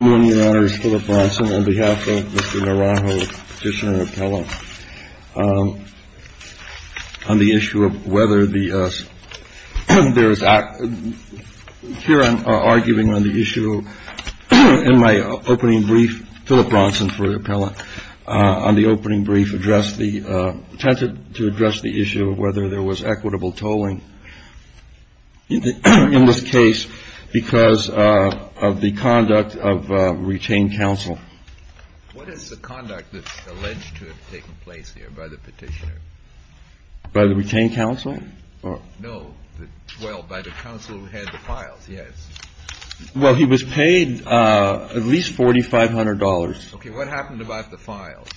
On behalf of Mr. Naranjo, Petitioner and Appellant, on the issue of whether there is, here I'm arguing on the issue, in my opening brief, Phillip Bronson for the Appellant, on the opening brief addressed the, attempted to address the issue of whether there was equitable estoppel in the case of retained counsel. What is the conduct that's alleged to have taken place here by the Petitioner? By the retained counsel? No, well, by the counsel who had the files, yes. Well, he was paid at least $4,500. Okay, what happened about the files?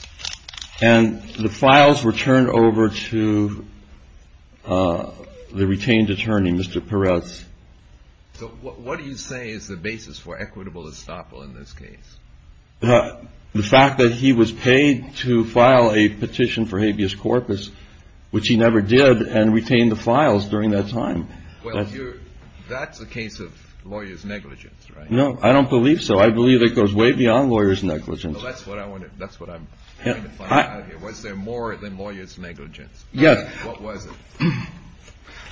And the files were turned over to the retained attorney, Mr. Perez. So what do you say is the basis for equitable estoppel in this case? The fact that he was paid to file a petition for habeas corpus, which he never did, and retained the files during that time. That's a case of lawyer's negligence, right? No, I don't believe so. I believe it goes way beyond lawyer's negligence. That's what I'm trying to find out here. Was there more than lawyer's negligence? Yes. What was it?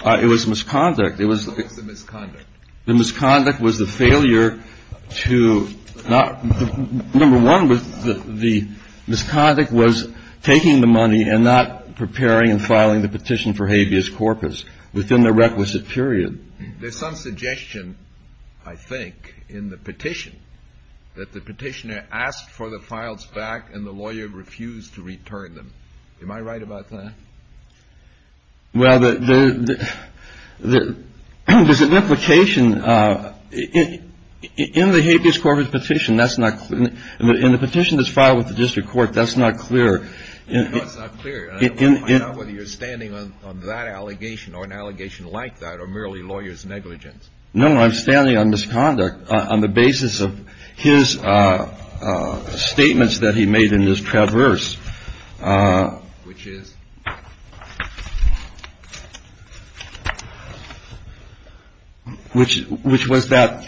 It was misconduct. What was the misconduct? The misconduct was the failure to not, number one, the misconduct was taking the money and not preparing and filing the petition for habeas corpus within the requisite period. There's some suggestion, I think, in the petition, that the Petitioner asked for the files back and the lawyer refused to return them. Am I right about that? Well, there's an implication. In the habeas corpus petition, that's not clear. In the petition that's filed with the district court, that's not clear. No, it's not clear. I don't want to find out whether you're standing on that allegation or an allegation like that or merely lawyer's negligence. No, I'm standing on misconduct on the basis of his statements that he made in his traverse. Which is? Which was that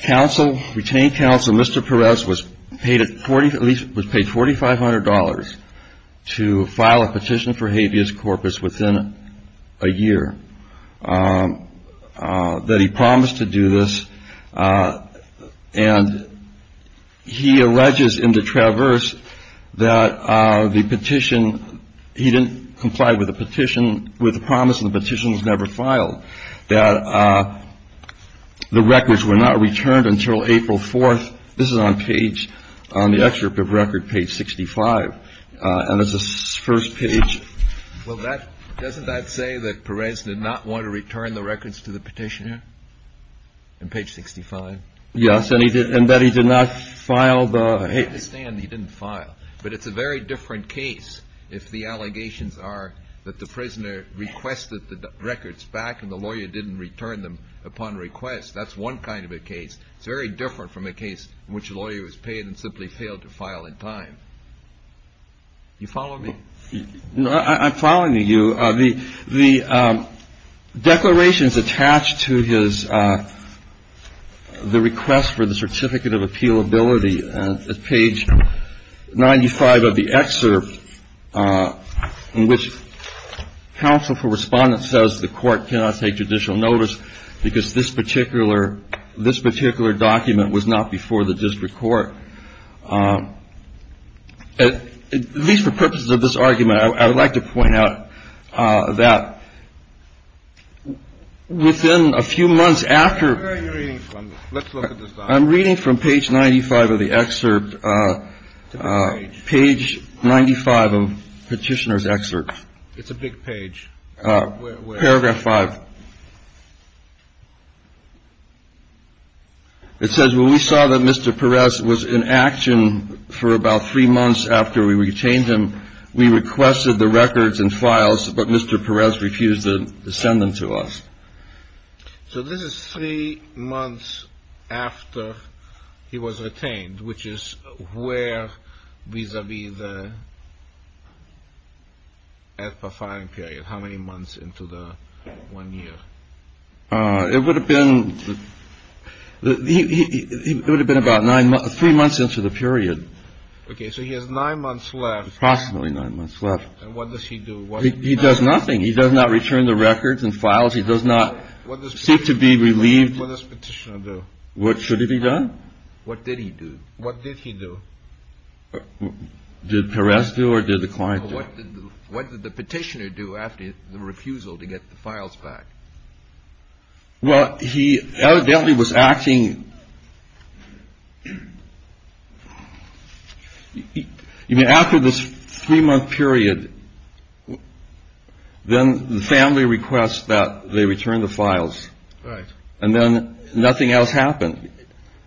retained counsel, Mr. Perez, was paid $4,500 to file a petition for habeas corpus within a year. That he promised to do this. And he alleges in the traverse that the petition, he didn't comply with the petition, with the promise the petition was never filed. That the records were not returned until April 4th. This is on page, on the excerpt of record, page 65. And it's the first page. Well, that, doesn't that say that Perez did not want to return the records to the petitioner? On page 65. Yes, and he did, and that he did not file the, he didn't file. But it's a very different case if the allegations are that the prisoner requested the records back and the lawyer didn't return them upon request. That's one kind of a case. It's very different from a case in which a lawyer was paid and simply failed to file in time. You follow me? I'm following you. The declarations attached to his, the request for the certificate of appealability at page 95 of the excerpt in which counsel for respondent says the court cannot take judicial notice because this particular, this particular document was not before the this argument. I would like to point out that within a few months after, I'm reading from page 95 of the excerpt, page 95 of Petitioner's excerpt. It's a big page. Paragraph 5. It says when we saw that Mr. Perez was in action for about three months after we retained him, we requested the records and files, but Mr. Perez refused to send them to us. So this is three months after he was retained, which is where vis-a-vis the F.A. filing period. How many months into the one year? It would have been, it would have been, it would have been, it would have been, it would have been, it would have been three months into the one year, but he's nine months left. Approximately nine months left. And what does he do? He does nothing. He does not return the records and files. He does not seek to be relieved. What does Petitioner do? What should he be done? What did he do? What did he do? Did Perez do or did the client do? What did the Petitioner do after the refusal to get the files back? Well, he evidently was acting, I mean, after this three month period, then the family requests that they return the files. Right. And then nothing else happened.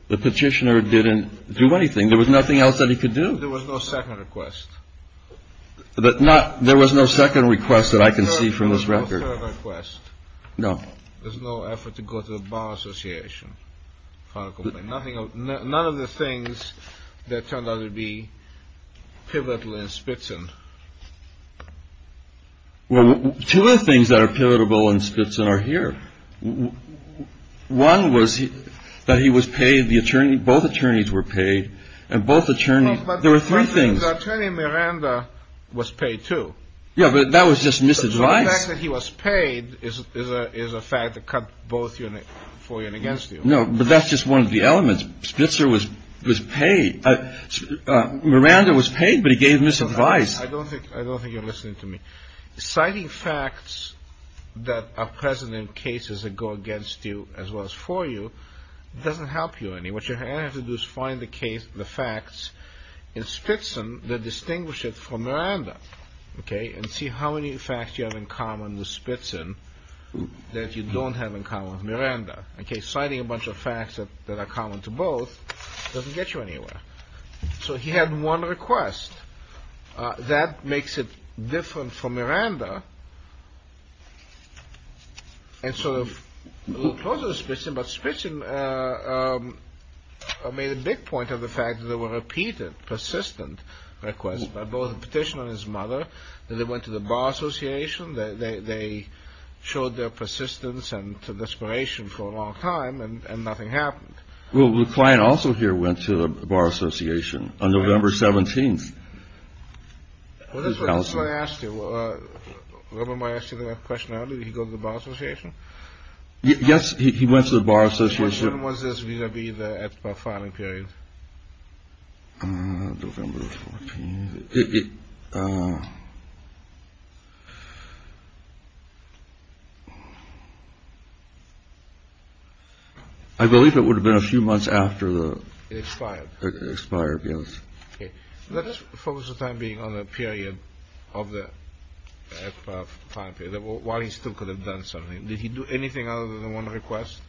The Petitioner didn't do anything. There was nothing else that he could do. There was no second request. There was no second request that I can see from this record. No third request. No. There's no effort to go to the Bar Association. None of the things that turned out to be pivotal in Spitzin. Two of the things that are pivotal in Spitzin are here. One was that he was paid, both attorneys were paid. And both attorneys, there were three things. But Attorney Miranda was paid too. Yeah, but that was just misadvice. The fact that he was paid is a fact that cut both for you and against you. No, but that's just one of the elements. Spitzer was paid. Miranda was paid, but he gave misadvice. I don't think you're listening to me. Citing facts that are present in cases that go against you as well as for you doesn't help you any. What you have to do is find the facts in Spitzin that distinguish it from Miranda. And see how many facts you have in common with Spitzin that you don't have in common with Miranda. Citing a bunch of facts that are common to both doesn't get you anywhere. So he had one request. That makes it different from Miranda. And sort of a little closer to Spitzin, but Spitzin made a big point of the fact that there were repeated persistent requests by both the petitioner and his mother. They went to the Bar Association. They showed their persistence and desperation for a long time and nothing happened. Well, the client also here went to the Bar Association on November 17th. Well, that's what I asked you. I asked you the question. You go to the Bar Association. Yes. He went to the Bar Association. Was this going to be the filing period? I believe it would have been a few months after the expired expired. Let's focus the time being on the period of the while he still could have done something. Did he do anything other than one request?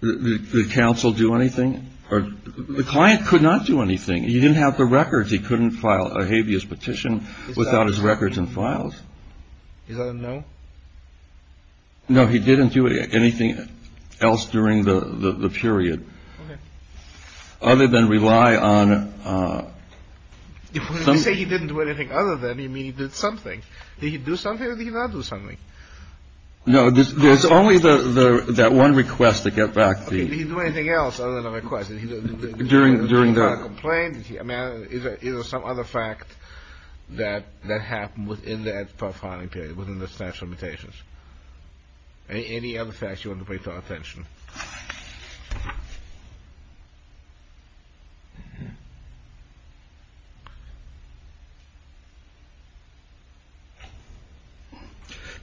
The council do anything or the client could not do anything. He didn't have the records. He couldn't file a habeas petition without his records and files. No. No, he didn't do anything else during the period. Other than rely on. You say he didn't do anything other than he did something. Did he do something or did he not do something? No, there's only that one request to get back. Did he do anything else other than a request? During the complaint. Is there some other fact that that happened within that filing period within the statute of limitations? Any other facts you want to pay attention?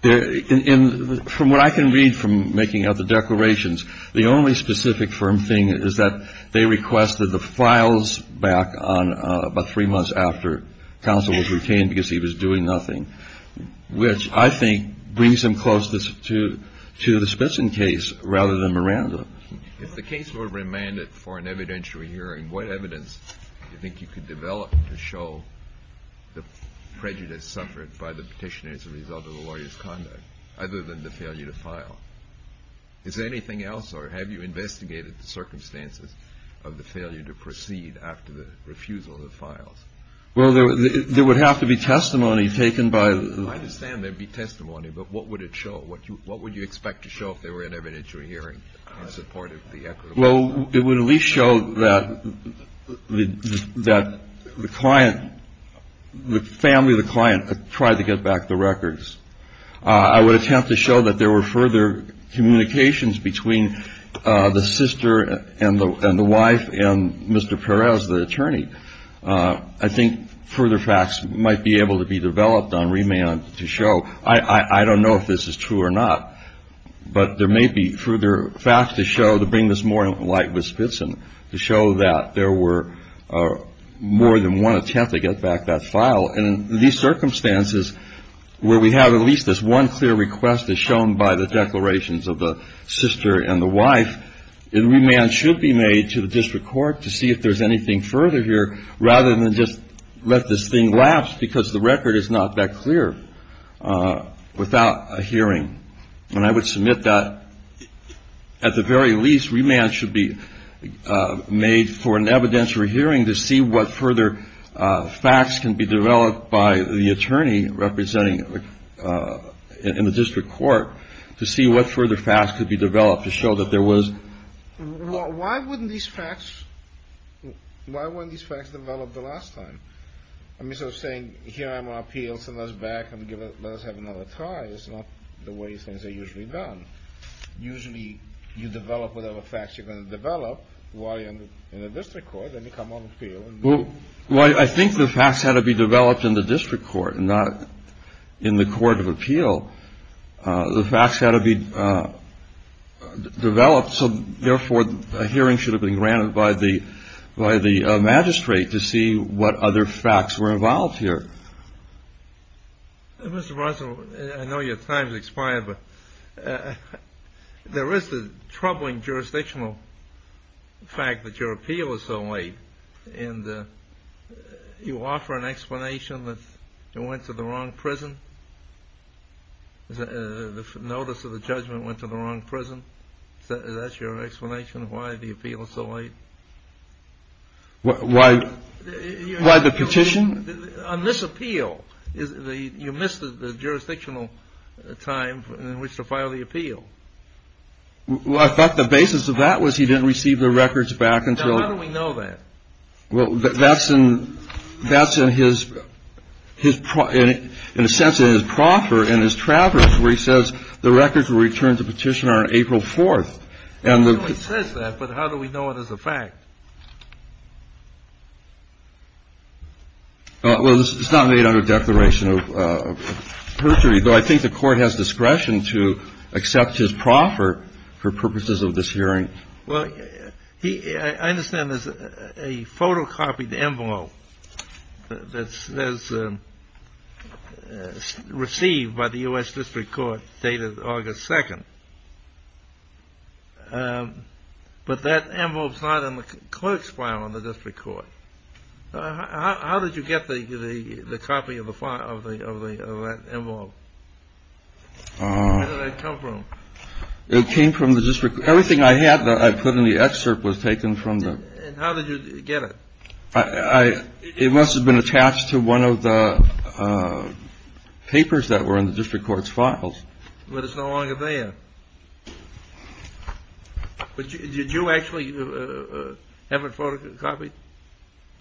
From what I can read from making other declarations, the only specific firm thing is that they requested the files back on about three months after council was retained because he was doing nothing, which I think brings him close to the Smithson case rather than Miranda. If the case were remanded for an evidentiary hearing, what evidence do you think you could develop to show the prejudice suffered by the petitioner as a result of a lawyer's conduct, other than the failure to file? Is there anything else or have you investigated the circumstances of the failure to proceed after the refusal of the files? Well, there would have to be testimony taken by the. I understand there would be testimony, but what would it show? What would you expect to show if there were an evidentiary hearing in support of the equitable? Well, it would at least show that the client, the family of the client tried to get back the records. I would attempt to show that there were further communications between the sister and the wife and Mr. Perez, the attorney. I think further facts might be able to be developed on remand to show. I don't know if this is true or not, but there may be further facts to show to bring this more light with Spitzen to show that there were more than one attempt to get back that file. And in these circumstances where we have at least this one clear request as shown by the declarations of the sister and the wife, remand should be made to the district court to see if there's anything further here rather than just let this thing lapse because the record is not that clear without a hearing. And I would submit that at the very least, remand should be made for an evidentiary hearing to see what further facts can be developed by the attorney representing in the district court to see what Why wouldn't these facts? Why wouldn't these facts develop the last time? I mean, so saying here I'm on appeals and those back and give it let us have another try is not the way things are usually done. Usually you develop whatever facts you're going to develop while you're in the district court and you come on appeal. Well, I think the facts had to be developed in the district court and not in the court of appeal. The facts had to be developed. So therefore, a hearing should have been granted by the by the magistrate to see what other facts were involved here. Mr. Russell, I know your time has expired, but there is the troubling jurisdictional fact that your appeal is so late. And you offer an explanation that you went to the wrong prison. The notice of the judgment went to the wrong prison. That's your explanation why the appeal is so late. Why? Why the petition on this appeal is the you missed the jurisdictional time in which to file the appeal. Well, I thought the basis of that was he didn't receive the records back until we know that. Well, that's in that's in his his in a sense in his proffer in his traverse where he says the records will return to petitioner on April 4th. And it says that. But how do we know it is a fact? Well, it's not made under a declaration of perjury, though I think the court has discretion to accept his proffer for purposes of this hearing. Well, he I understand there's a photocopied envelope that's received by the U.S. District Court dated August 2nd. But that envelope's not in the clerk's file on the district court. How did you get the copy of the file of the envelope? It came from the district. Everything I had that I put in the excerpt was taken from the. And how did you get it? I it must have been attached to one of the papers that were in the district court's files. But it's no longer there. But did you actually have a photocopy?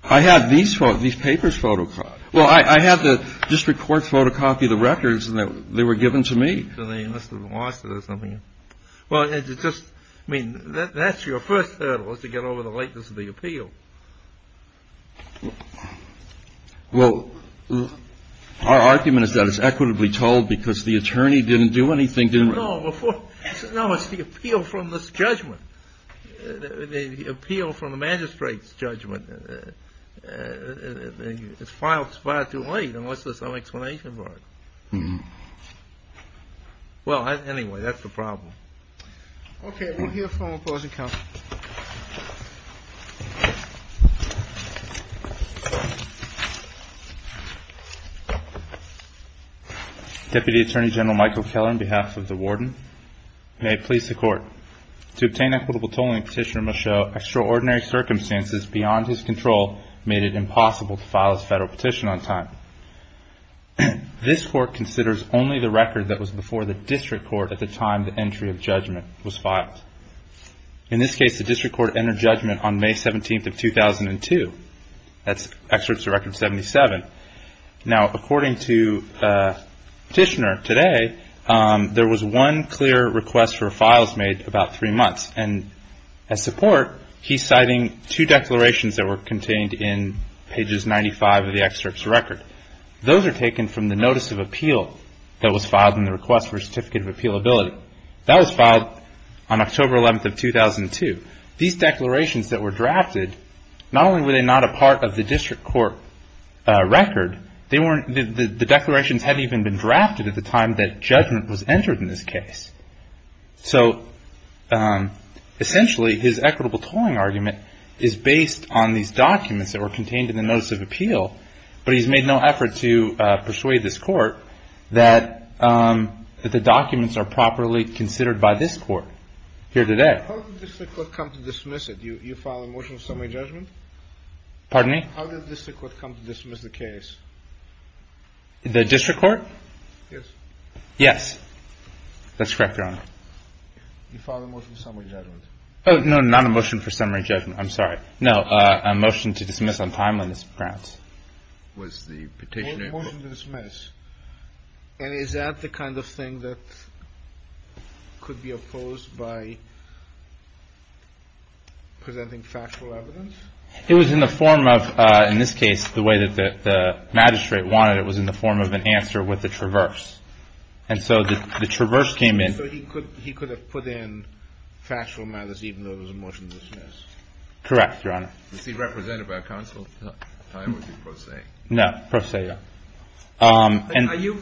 I had these for these papers photocopied. Well, I had the district court photocopy the records and they were given to me. So they must have lost it or something. Well, it's just I mean, that's your first hurdle is to get over the lateness of the appeal. Well, our argument is that it's equitably told because the attorney didn't do anything. No, it's the appeal from this judgment, the appeal from the magistrate's judgment. It's filed far too late unless there's some explanation for it. Well, anyway, that's the problem. Okay, we'll hear from opposing counsel. Deputy Attorney General Michael Keller, on behalf of the warden. May it please the court. To obtain equitable tolling, Petitioner must show extraordinary circumstances beyond his control made it impossible to file his federal petition on time. This court considers only the record that was before the district court at the time the entry of judgment was filed. In this case, the district court entered judgment on May 17th of 2002. That's excerpts of Record 77. Now, according to Petitioner today, there was one clear request for files made about three months. And as support, he's citing two declarations that were contained in pages 95 of the excerpt's record. Those are taken from the notice of appeal that was filed in the request for a certificate of appealability. That was filed on October 11th of 2002. These declarations that were drafted, not only were they not a part of the district court record, the declarations hadn't even been drafted at the time that judgment was entered in this case. So essentially, his equitable tolling argument is based on these documents that were contained in the notice of appeal. But he's made no effort to persuade this court that the documents are properly considered by this court here today. How did the district court come to dismiss it? You filed a motion of summary judgment? Pardon me? How did the district court come to dismiss the case? The district court? Yes. Yes. That's correct, Your Honor. You filed a motion of summary judgment. Oh, no, not a motion for summary judgment. I'm sorry. No, a motion to dismiss on timeliness grounds. Was the Petitioner. A motion to dismiss. And is that the kind of thing that could be opposed by presenting factual evidence? It was in the form of, in this case, the way that the magistrate wanted it was in the form of an answer with a traverse. And so the traverse came in. So he could have put in factual matters even though it was a motion to dismiss. Correct, Your Honor. Was he represented by a counsel? No, pro se, yeah. Are you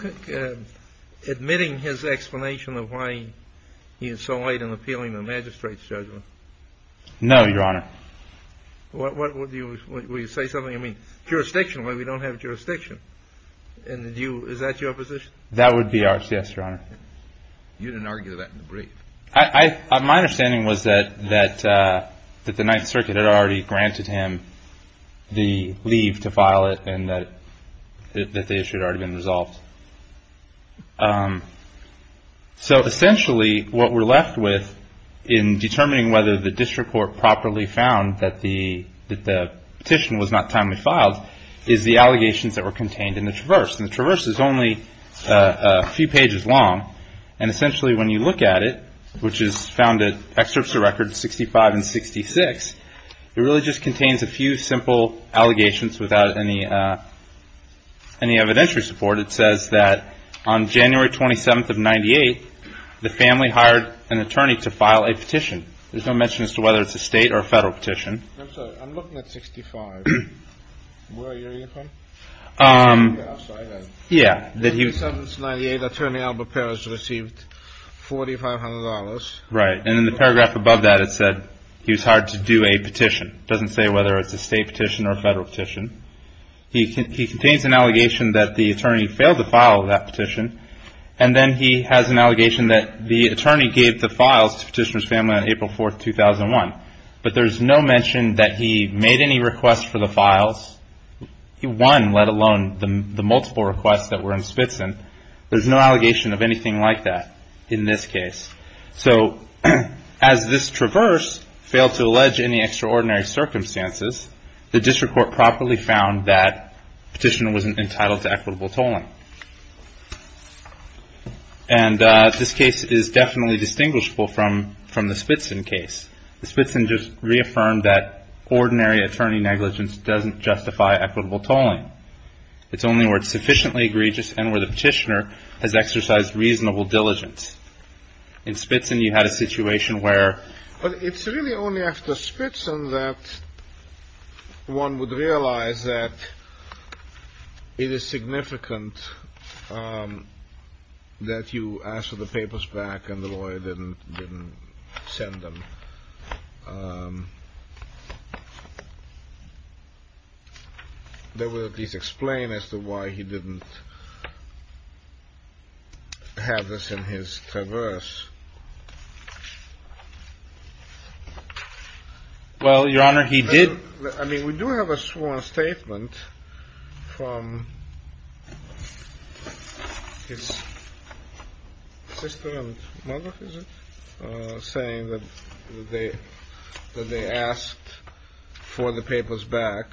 admitting his explanation of why he is so late in appealing the magistrate's judgment? No, Your Honor. Would you say something? I mean, jurisdictional, we don't have jurisdiction. Is that your position? That would be ours, yes, Your Honor. You didn't argue that in the brief. My understanding was that the Ninth Circuit had already granted him the leave to file it and that the issue had already been resolved. So essentially what we're left with in determining whether the district court properly found that the petition was not timely filed is the allegations that were contained in the traverse. And the traverse is only a few pages long. And essentially when you look at it, which is found in excerpts of records 65 and 66, it really just contains a few simple allegations without any evidentiary support. It says that on January 27th of 98, the family hired an attorney to file a petition. There's no mention as to whether it's a state or a federal petition. I'm sorry. I'm looking at 65. Where are you from? I'm sorry. Yeah. On January 27th of 98, attorney Albert Perez received $4,500. Right. And in the paragraph above that it said he was hired to do a petition. It doesn't say whether it's a state petition or a federal petition. He contains an allegation that the attorney failed to file that petition. And then he has an allegation that the attorney gave the files to the petitioner's family on April 4th, 2001. But there's no mention that he made any requests for the files. He won, let alone the multiple requests that were in Spitzen. There's no allegation of anything like that in this case. So as this traverse failed to allege any extraordinary circumstances, the district court properly found that the petitioner wasn't entitled to equitable tolling. And this case is definitely distinguishable from the Spitzen case. The Spitzen just reaffirmed that ordinary attorney negligence doesn't justify equitable tolling. It's only where it's sufficiently egregious and where the petitioner has exercised reasonable diligence. In Spitzen you had a situation where – It is significant that you asked for the papers back and the lawyer didn't send them. That would at least explain as to why he didn't have this in his traverse. Well, Your Honor, he did – I mean, we do have a sworn statement from his sister and mother, is it, saying that they asked for the papers back.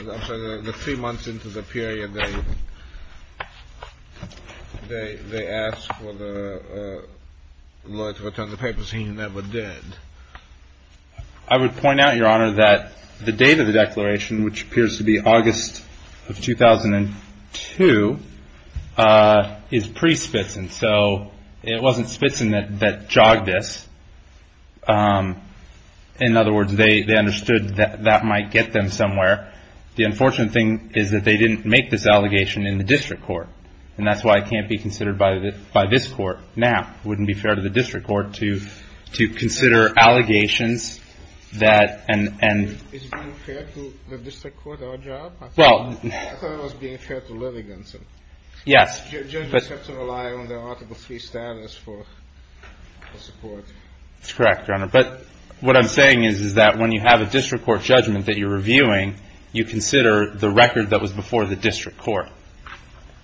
I'm sorry, the three months into the period they asked for the lawyer to return the papers, he never did. I would point out, Your Honor, that the date of the declaration, which appears to be August of 2002, is pre-Spitzen. So it wasn't Spitzen that jogged this. In other words, they understood that that might get them somewhere. The unfortunate thing is that they didn't make this allegation in the district court, and that's why it can't be considered by this court now. It wouldn't be fair to the district court to consider allegations that – Is being fair to the district court our job? I thought it was being fair to litigants. Yes. Judges have to rely on their Article III status for support. That's correct, Your Honor. But what I'm saying is that when you have a district court judgment that you're reviewing, you consider the record that was before the district court.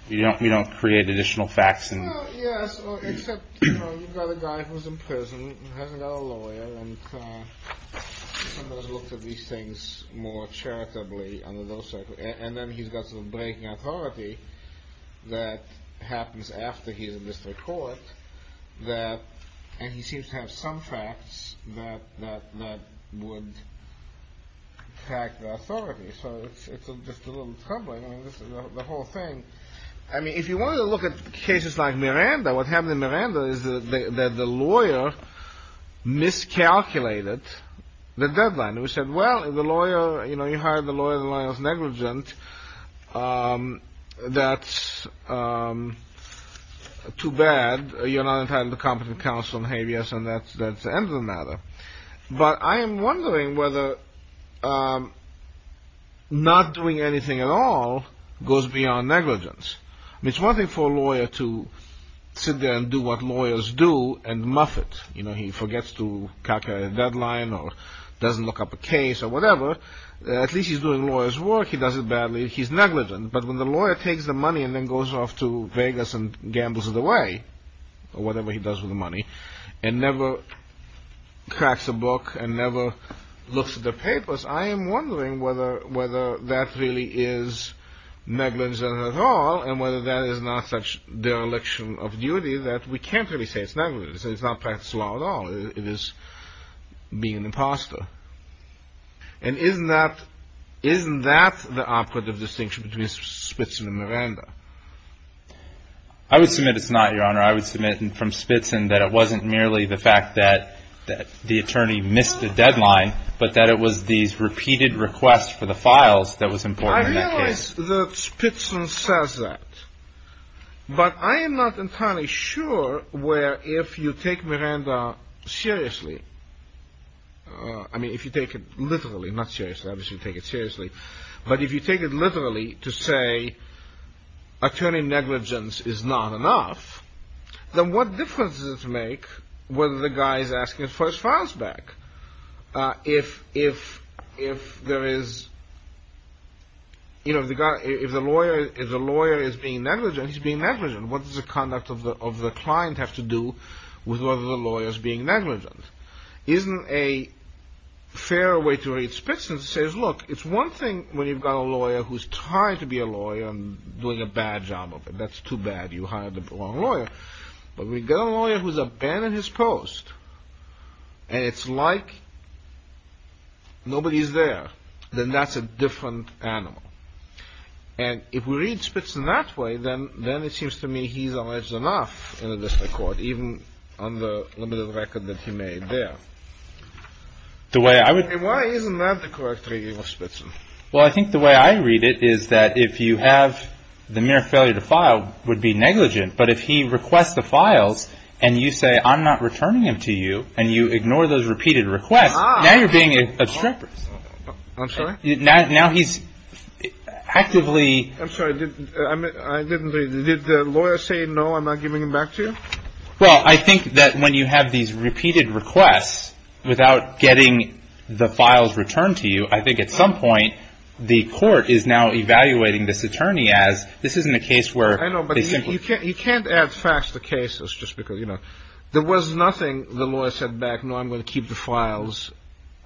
You don't create additional facts and – Well, yes, except, you know, you've got a guy who's in prison, who hasn't got a lawyer, and somebody's looked at these things more charitably under those circumstances. And then he's got some breaking authority that happens after he's in district court, and he seems to have some facts that would attack the authority. So it's just a little troubling. I mean, this is the whole thing. I mean, if you wanted to look at cases like Miranda, what happened in Miranda is that the lawyer miscalculated the deadline. We said, well, the lawyer, you know, you hired the lawyer, the lawyer's negligent. That's too bad. You're not entitled to competent counsel and habeas, and that's the end of the matter. But I am wondering whether not doing anything at all goes beyond negligence. I mean, it's one thing for a lawyer to sit there and do what lawyers do and muff it. You know, he forgets to calculate a deadline or doesn't look up a case or whatever. At least he's doing lawyers' work. He does it badly. He's negligent. But when the lawyer takes the money and then goes off to Vegas and gambles it away, or whatever he does with the money, and never cracks a book and never looks at the papers, I am wondering whether that really is negligence at all, and whether that is not such dereliction of duty that we can't really say it's negligence. It's not practice of law at all. It is being an imposter. And isn't that the operative distinction between Spitson and Miranda? I would submit it's not, Your Honor. I would submit from Spitson that it wasn't merely the fact that the attorney missed a deadline, but that it was these repeated requests for the files that was important in that case. I realize that Spitson says that. But I am not entirely sure where if you take Miranda seriously, I mean if you take it literally, not seriously, obviously you take it seriously, but if you take it literally to say attorney negligence is not enough, then what difference does it make whether the guy is asking for his files back? If the lawyer is being negligent, he's being negligent. What does the conduct of the client have to do with whether the lawyer is being negligent? Isn't a fair way to read Spitson to say, look, it's one thing when you've got a lawyer who's trying to be a lawyer and doing a bad job of it. That's too bad, you hired the wrong lawyer. But we've got a lawyer who's abandoned his post and it's like nobody's there. Then that's a different animal. And if we read Spitson that way, then it seems to me he's alleged enough in the district court, even on the limited record that he made there. And why isn't that the correct reading of Spitson? Well, I think the way I read it is that if you have the mere failure to file would be negligent, but if he requests the files and you say I'm not returning them to you and you ignore those repeated requests, now you're being obstructed. I'm sorry. Now he's actively. I'm sorry. I didn't. Did the lawyer say, no, I'm not giving them back to you? Well, I think that when you have these repeated requests without getting the files returned to you, I think at some point the court is now evaluating this attorney as this isn't a case where. I know, but you can't add facts to cases just because, you know. There was nothing the lawyer said back, no, I'm going to keep the files.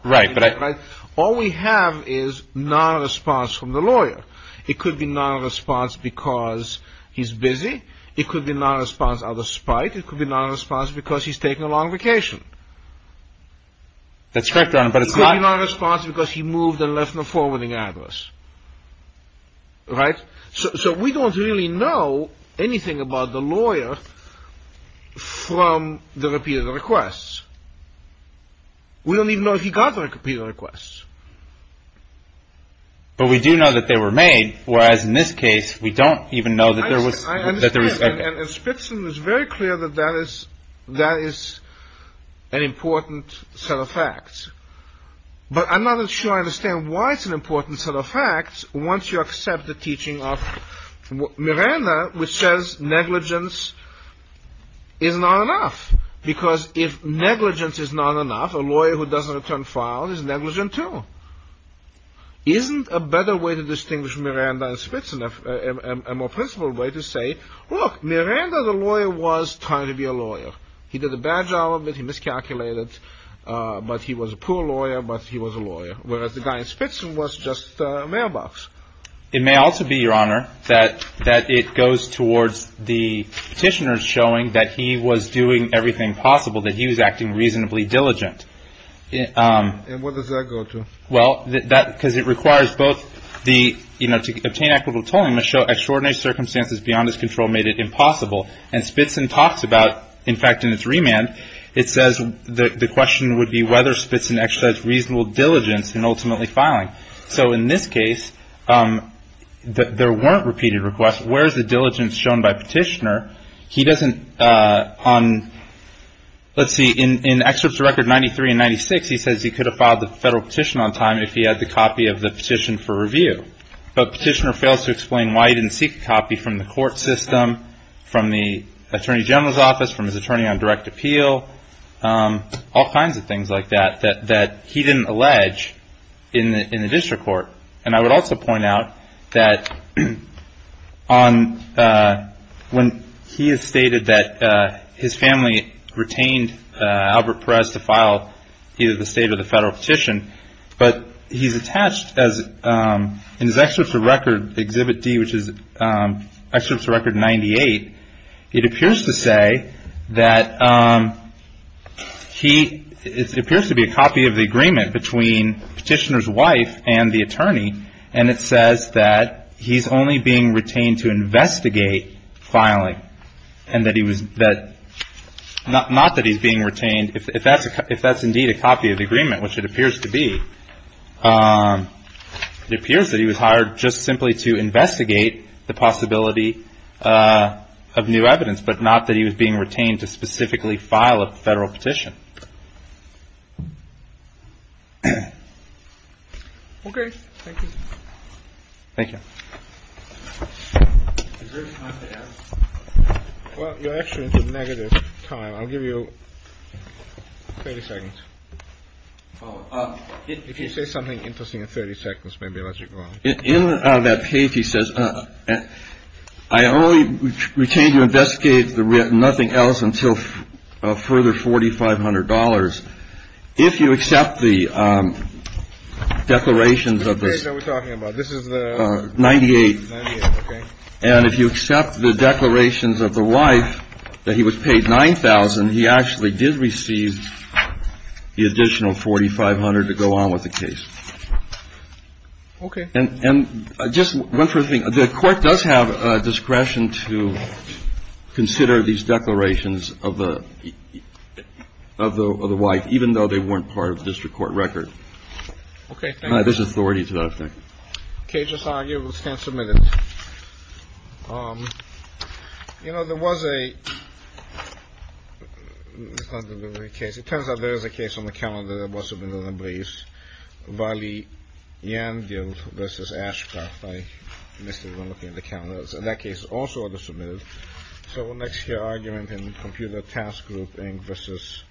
Right. All we have is non-response from the lawyer. It could be non-response because he's busy. It could be non-response out of spite. It could be non-response because he's taking a long vacation. That's correct, Your Honor, but it's not. It could be non-response because he moved and left no forwarding address. Right? So we don't really know anything about the lawyer from the repeated requests. We don't even know if he got the repeated requests. But we do know that they were made, whereas in this case we don't even know that there was. And Spitzman was very clear that that is an important set of facts. But I'm not sure I understand why it's an important set of facts once you accept the teaching of Miranda, which says negligence is not enough, because if negligence is not enough, a lawyer who doesn't return files is negligent too. Isn't a better way to distinguish Miranda and Spitzman a more principled way to say, look, Miranda the lawyer was trying to be a lawyer. He did a bad job of it. He miscalculated. But he was a poor lawyer, but he was a lawyer, whereas the guy in Spitzman was just a mailbox. It may also be, Your Honor, that it goes towards the petitioners showing that he was doing everything possible, that he was acting reasonably diligent. And where does that go to? Well, because it requires both the, you know, to obtain equitable tolling must show extraordinary circumstances beyond his control made it impossible. And Spitzman talks about, in fact, in his remand, it says the question would be whether Spitzman exercised reasonable diligence in ultimately filing. So in this case, there weren't repeated requests. Where is the diligence shown by petitioner? He doesn't on, let's see, in excerpts record 93 and 96, he says he could have filed the federal petition on time if he had the copy of the petition for review. But petitioner fails to explain why he didn't seek a copy from the court system, from the attorney general's office, from his attorney on direct appeal, all kinds of things like that, that he didn't allege in the district court. And I would also point out that when he has stated that his family retained Albert Perez to file either the state or the federal petition, but he's attached as in his excerpts of record exhibit D, which is excerpts record 98. It appears to say that he appears to be a copy of the agreement between petitioner's wife and the attorney. And it says that he's only being retained to investigate filing and that he was that not that he's being retained. If that's if that's indeed a copy of the agreement, which it appears to be, it appears that he was hired just simply to investigate the possibility of new evidence, but not that he was being retained to specifically file a federal petition. OK, thank you. Thank you. Well, you're actually into the negative time. I'll give you 30 seconds. If you say something interesting in 30 seconds, maybe I'll let you go on. In that case, he says, I only retained to investigate the written nothing else until further forty five hundred dollars. If you accept the declarations of this, we're talking about this is the ninety eight. And if you accept the declarations of the wife that he was paid nine thousand, he actually did receive the additional forty five hundred to go on with the case. OK. And just one thing. The court does have discretion to consider these declarations of the of the wife, even though they weren't part of the district court record. OK. There's authority to that thing. OK. Just argue. We'll stand submitted. You know, there was a case. It turns out there is a case on the calendar that was submitted in the briefs. Vali and this is Ashcroft. I missed it when looking at the cameras in that case. Also the submitted. So what makes your argument in the computer task group versus.